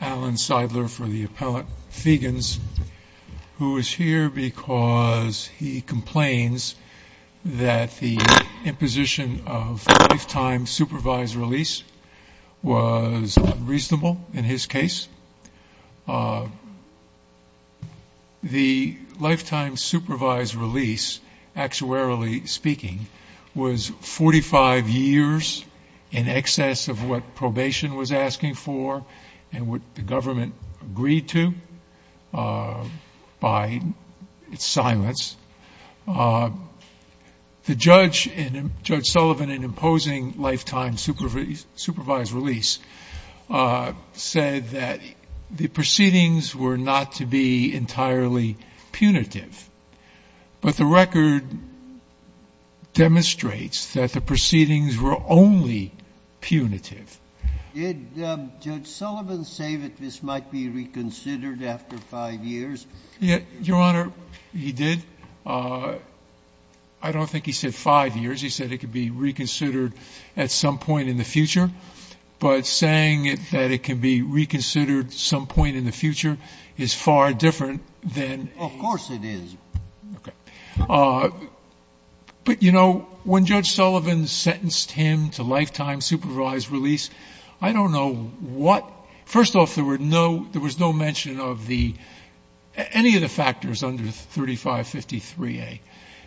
Allen Seidler for the appellate, Fegans, who is here because he complains that the imposition of lifetime supervised release was reasonable in his case. The lifetime supervised release, actuarially speaking, was 45 years in excess of what probation was asking for and what the government agreed to by its silence. The judge, Judge Sullivan, in imposing lifetime supervised release said that the proceedings were not to be entirely punitive, but the record demonstrates that the proceedings were only punitive. Did Judge Sullivan say that this might be reconsidered after five years? Your Honor, he did. I don't think he said five years. He said it could be reconsidered at some point in the future, but saying that it can be reconsidered at some point in the future is far different than— Of course it is. But, you know, when Judge Sullivan sentenced him to lifetime supervised release, I don't know what— First off, there was no mention of any of the factors under 3553A.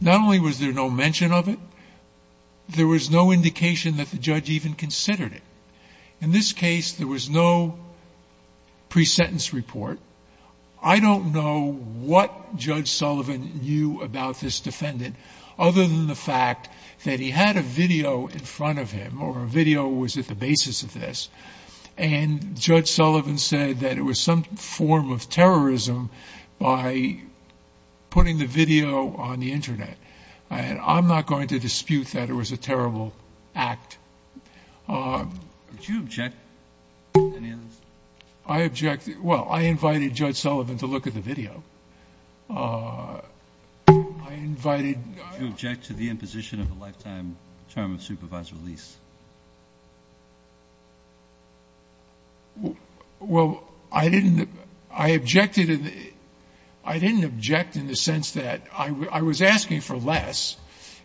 Not only was there no mention of it, there was no indication that the judge even considered it. In this case, Judge Sullivan knew about this defendant other than the fact that he had a video in front of him or a video was at the basis of this. And Judge Sullivan said that it was some form of terrorism by putting the video on the Internet. I'm not going to dispute that it was a terrible act. Did you object to any of this? I objected. Well, I invited Judge Sullivan to look at the video. I invited— Did you object to the imposition of a lifetime term of supervised release? Well, I didn't—I objected in the—I didn't object in the sense that I was asking for less.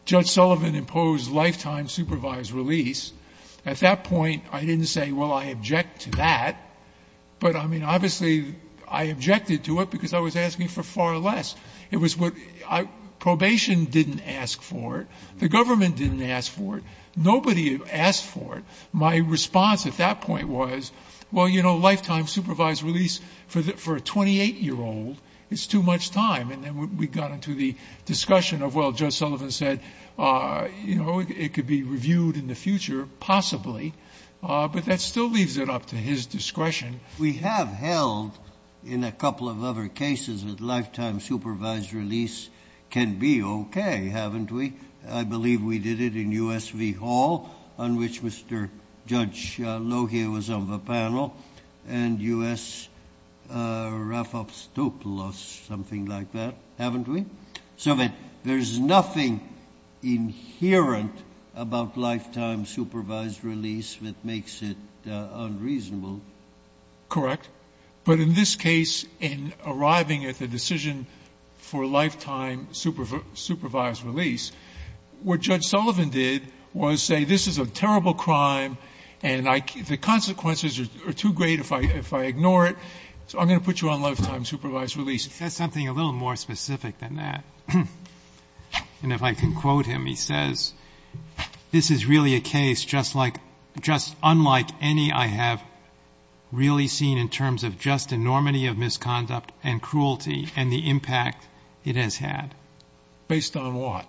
Judge Sullivan imposed lifetime supervised release. At that point, I didn't say, well, I object to that. But, I mean, obviously, I objected to it because I was asking for far less. It was what—probation didn't ask for it. The government didn't ask for it. Nobody asked for it. My response at that point was, well, you know, lifetime supervised release for a 28-year-old is too much time. And then we got into the discussion of, well, Judge Sullivan said, you know, it could be reviewed in the future, possibly, but that still leaves it up to his discretion. We have held, in a couple of other cases, that lifetime supervised release can be OK, haven't we? I believe we did it in US v. Hall, on which Mr. Judge Lohier was on the inherent about lifetime supervised release, which makes it unreasonable. Correct. But in this case, in arriving at the decision for lifetime supervised release, what Judge Sullivan did was say, this is a terrible crime, and I—the consequences are too great if I—if I ignore it, so I'm going to put you on lifetime supervised release. That's something a little more specific than that. And if I can quote him, he says, this is really a case just like—just unlike any I have really seen in terms of just enormity of misconduct and cruelty and the impact it has had. Based on what?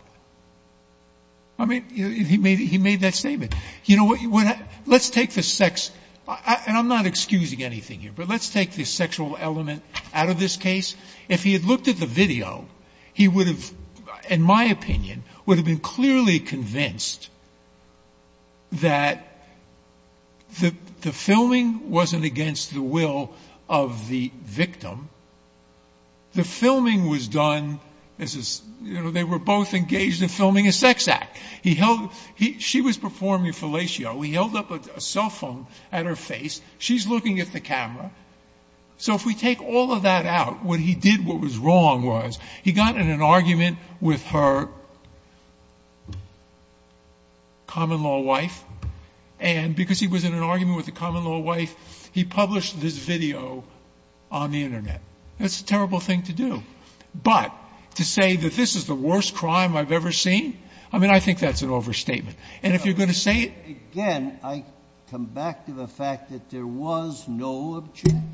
I mean, he made—he made that statement. You know, what—let's take the sex—and I'm not excusing anything here, but let's take the sexual element out of this case. If he had looked at the video, he would have, in my opinion, would have been clearly convinced that the filming wasn't against the will of the victim. The filming was done as a—you know, they were both engaged in filming a sex act. He held—she was performing fellatio. He held up a cell phone at her face. She's looking at the camera. So if we take all of that out, what he did what was wrong was he got in an argument with her common-law wife, and because he was in an argument with the common-law wife, he published this video on the Internet. That's a terrible thing to do. But to say that this is the worst crime I've ever seen, I mean, I think that's an overstatement. And if you're going to say it— There was no objection.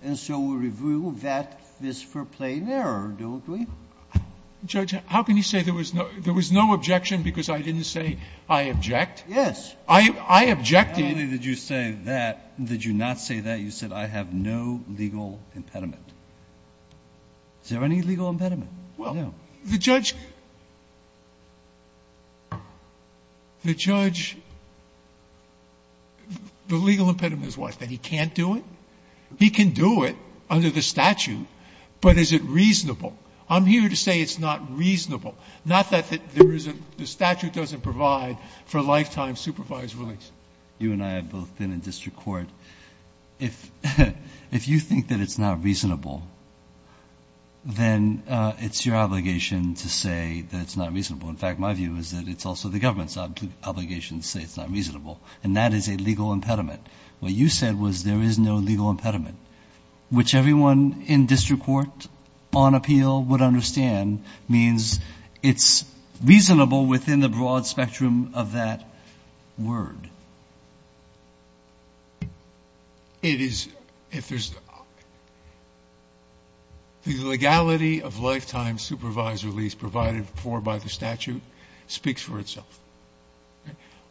And so we review that, this for plain error, don't we? Judge, how can you say there was no objection because I didn't say I object? Yes. I objected. How many did you say that? Did you not say that? You said I have no legal impediment. Is there any legal impediment? Well, the judge—the judge—the legal impediment is what? That he can't do it? He can do it under the statute, but is it reasonable? I'm here to say it's not reasonable. Not that there isn't—the statute doesn't provide for lifetime supervised release. You and I have both been in district court. If you think that it's not reasonable, then it's your obligation to say that it's not reasonable. In fact, my view is that it's also the government's obligation to say it's not reasonable, and that is a legal impediment. What you said was there is no legal impediment, which everyone in district court on appeal would understand means it's reasonable within the broad spectrum of that word. It is—if there's—the legality of lifetime supervised release provided for by the statute speaks for itself.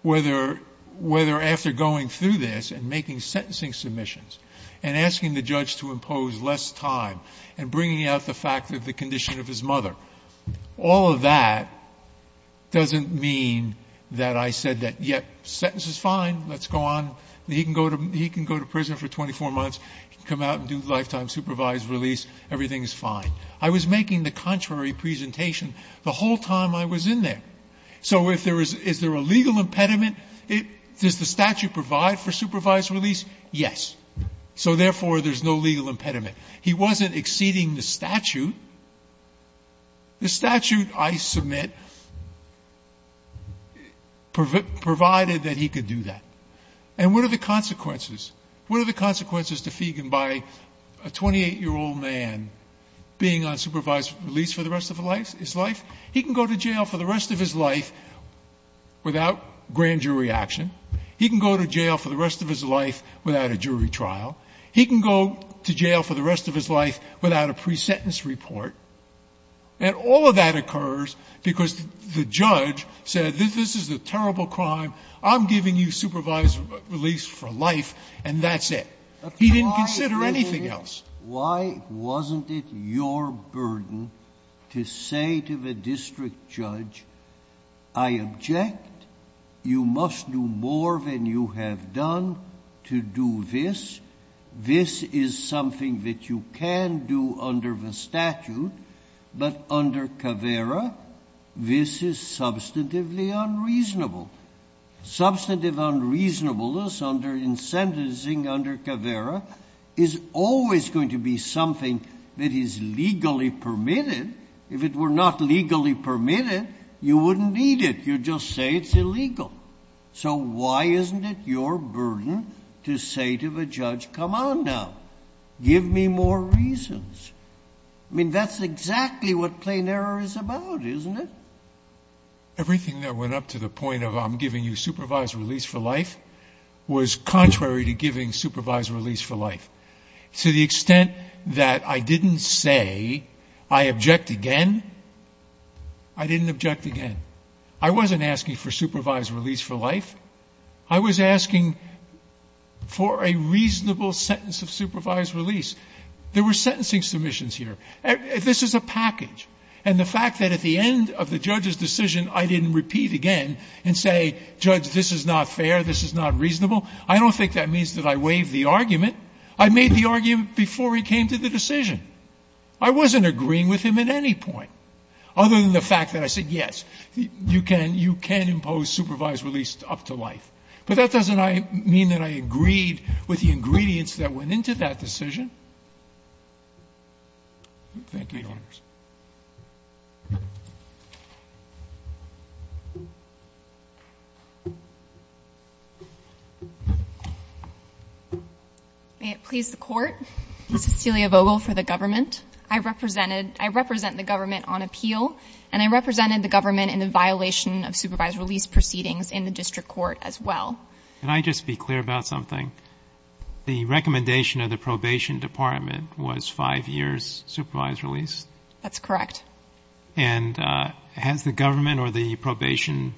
Whether—whether after going through this and making sentencing submissions and asking the judge to impose less time and bringing out the fact of the condition of his mother, all of that doesn't mean that I said that, yeah, sentence is fine, let's go on. He can go to prison for 24 months. He can come out and do lifetime supervised release. Everything is fine. I was making the contrary presentation the whole time I was in there. So if there is—is there a legal impediment? Does the statute provide for supervised release? Yes. So therefore, there's no legal impediment. He wasn't exceeding the statute. The statute I submit provided that he could do that. And what are the consequences? What are the consequences to Feigin by a 28-year-old man being on supervised release for the rest of his life? He can go to jail for the rest of his life without grand jury action. He can go to jail for the rest of his life without a jury trial. He can go to jail for the rest of his life without a pre-sentence report. And all of that occurs because the judge said, this is a terrible crime. I'm giving you supervised release for life and that's it. He didn't consider anything else. Why wasn't it your burden to say to the district judge, I object. You must do more than you have done to do this. This is something that you can do under the statute. But under Caveira, this is substantively unreasonable. Substantive unreasonableness under—in sentencing under Caveira is always going to be something that is legally permitted. If it were not legally permitted, you wouldn't need it. You'd just say it's illegal. So why isn't it your burden to say to the judge, come on now. Give me more reasons. I mean, that's exactly what plain error is about, isn't it? Everything that went up to the point of I'm giving you supervised release for life was contrary to giving supervised release for life. To the extent that I didn't say I object again, I didn't object again. I wasn't asking for supervised release for life. I was asking for a reasonable sentence of supervised release. There were sentencing submissions here. This is a package. And the fact that at the end of the judge's decision, I didn't repeat again and say, judge, this is not fair. This is not reasonable. I don't think that means that I waived the argument. I made the argument before he came to the decision. I wasn't agreeing with him at any point, other than the fact that I said, yes, you can impose supervised release up to life. But that doesn't mean that I agreed with the ingredients Thank you, Your Honors. May it please the Court. Cecilia Vogel for the government. I represent the government on appeal, and I represented the government in the violation of supervised release proceedings in the district court as well. Can I just be clear about something? The recommendation of the probation department was five years supervised release? That's correct. And has the government or the probation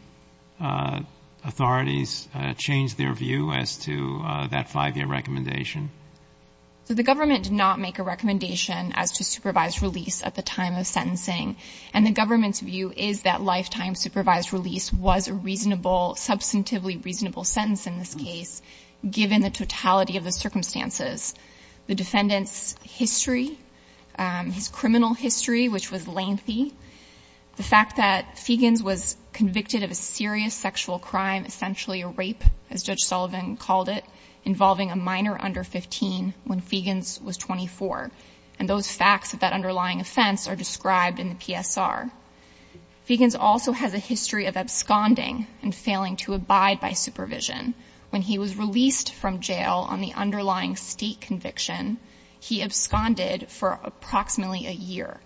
authorities changed their view as to that five-year recommendation? The government did not make a recommendation as to supervised release at the time of sentencing. And the government's view is that lifetime supervised release was a reasonable, substantively reasonable sentence in this case, given the totality of the circumstances. The defendant's history, his criminal history, which was lengthy, the fact that Feigens was convicted of a serious sexual crime, essentially a rape, as Judge Sullivan called it, involving a minor under 15 when Feigens was 24. And those facts of that underlying offense are described in the PSR. Feigens also has a history of absconding and failing to abide by supervision. When he was released from jail on the underlying state conviction, he absconded for approximately a year.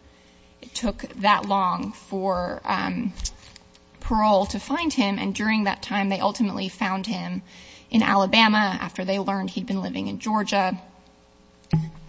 It took that long for parole to find him, and during that time they ultimately found him in Alabama after they learned he'd been living in Georgia.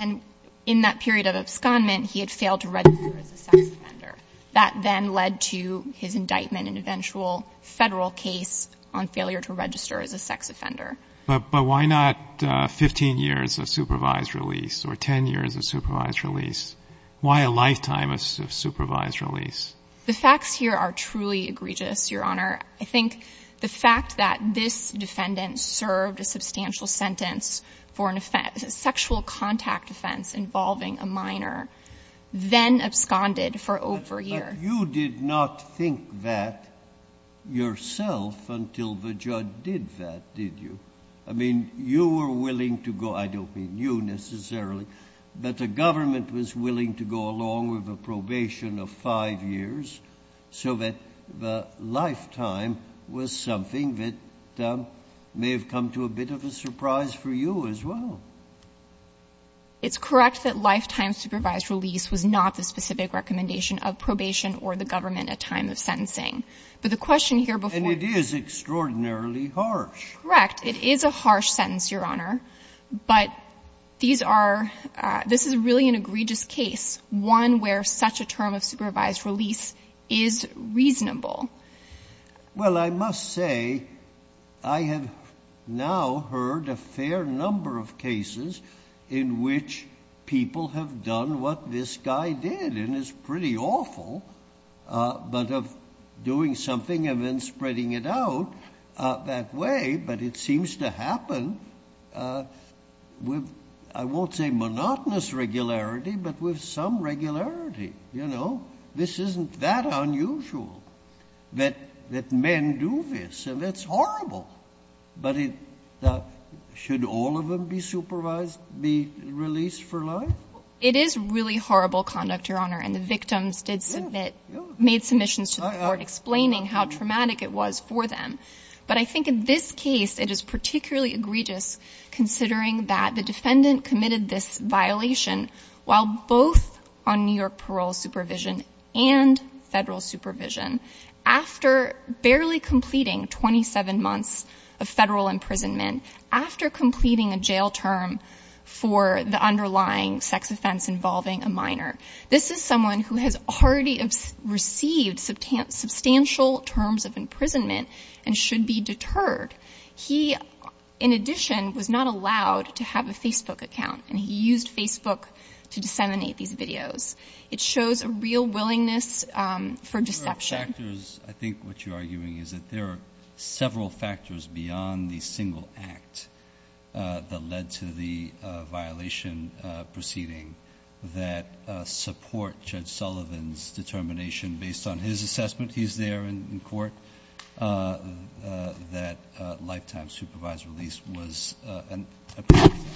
And in that period of abscondment, he had failed to register as a sex offender. That then led to his indictment in an eventual Federal case on failure to register as a sex offender. But why not 15 years of supervised release or 10 years of supervised release? Why a lifetime of supervised release? The facts here are truly egregious, Your Honor. I think the fact that this defendant served a substantial sentence for a sexual contact offense involving a minor, then absconded for over a year. But you did not think that yourself until the judge did that, did you? I mean, you were willing to go, I don't mean you necessarily, but the government was willing to go along with a probation of five years so that the lifetime was something that may have come to a bit of a surprise for you as well. It's correct that lifetime supervised release was not the specific recommendation of probation or the government at time of sentencing. But the question here before And it is extraordinarily harsh. Correct. It is a harsh sentence, Your Honor. But these are, this is really an egregious case, one where such a term of supervised release is reasonable. Well, I must say I have now heard a fair number of cases in which people have done what this guy did, and it's pretty awful, but of doing something and then spreading it out that way. But it seems to happen with, I won't say monotonous regularity, but with some regularity. You know, this isn't that unusual that men do this, and it's horrible. But it should all of them be supervised, be released for life? It is really horrible conduct, Your Honor, and the victims did submit, made submissions to the court explaining how traumatic it was for them. But I think in this case it is particularly egregious considering that the defendant committed this violation while both on New York parole supervision and federal supervision after barely completing 27 months of federal imprisonment, after completing a jail term for the underlying sex offense involving a minor. This is someone who has already received substantial terms of imprisonment and should be deterred. He, in addition, was not allowed to have a Facebook account, and he used Facebook to disseminate these videos. It shows a real willingness for deception. I think what you're arguing is that there are several factors beyond the single act that led to the violation proceeding that support Judge Sullivan's determination based on his assessment, he's there in court, that lifetime supervised release was an appropriate one.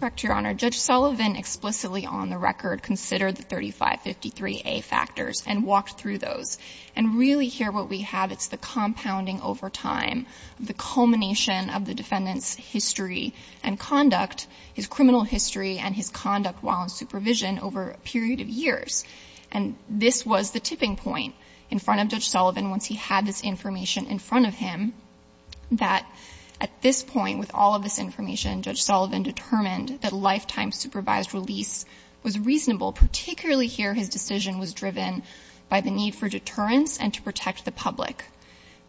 Correct, Your Honor. Judge Sullivan explicitly on the record considered the 3553A factors and walked through those. And really here what we have, it's the compounding over time, the culmination of the defendant's history and conduct, his criminal history and his conduct while on supervision over a period of years. And this was the tipping point in front of Judge Sullivan once he had this information in front of him that at this point, with all of this information, Judge Sullivan determined that lifetime supervised release was reasonable, particularly here his decision was driven by the need for deterrence and to protect the public.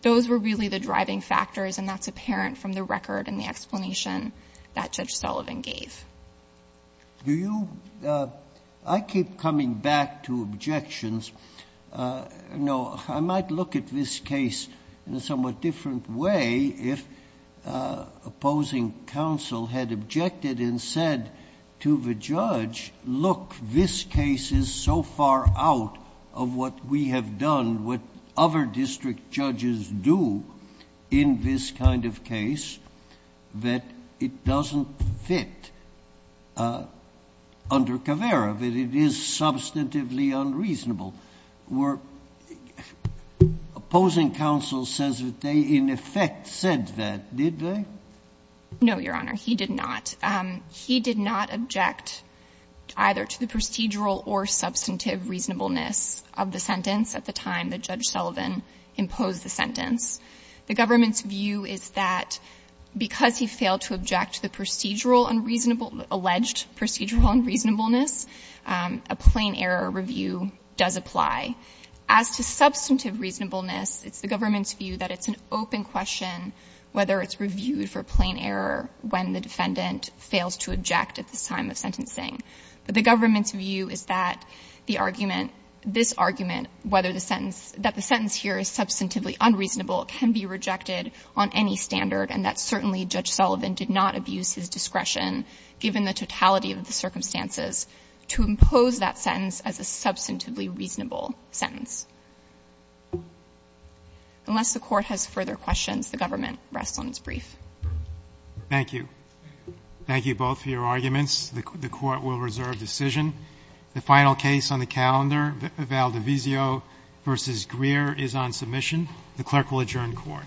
Those were really the driving factors, and that's apparent from the record and the explanation that Judge Sullivan gave. Do you – I keep coming back to – no, I might look at this case in a somewhat different way if opposing counsel had objected and said to the judge, look, this case is so far out of what we have done, what other district judges do in this kind of case that it doesn't fit under Caveira, that it is substantively unreasonable, where opposing counsel says that they in effect said that, did they? No, Your Honor. He did not. He did not object either to the procedural or substantive reasonableness of the sentence at the time that Judge Sullivan imposed the sentence. The government's view is that because he failed to object to the procedural unreasonable – alleged procedural unreasonableness, a plain error review does apply. As to substantive reasonableness, it's the government's view that it's an open question whether it's reviewed for plain error when the defendant fails to object at this time of sentencing. But the government's view is that the argument – this argument, whether the sentence – that the sentence here is substantively unreasonable can be rejected on any standard and that certainly Judge Sullivan did not abuse his discretion given the totality of the circumstances to impose that sentence as a substantively reasonable sentence. Unless the Court has further questions, the government rests on its brief. Roberts. Thank you. Thank you both for your arguments. The Court will reserve decision. The final case on the calendar, Valdivizio v. Greer, is on submission. The Clerk will adjourn the Court. The Court is adjourned.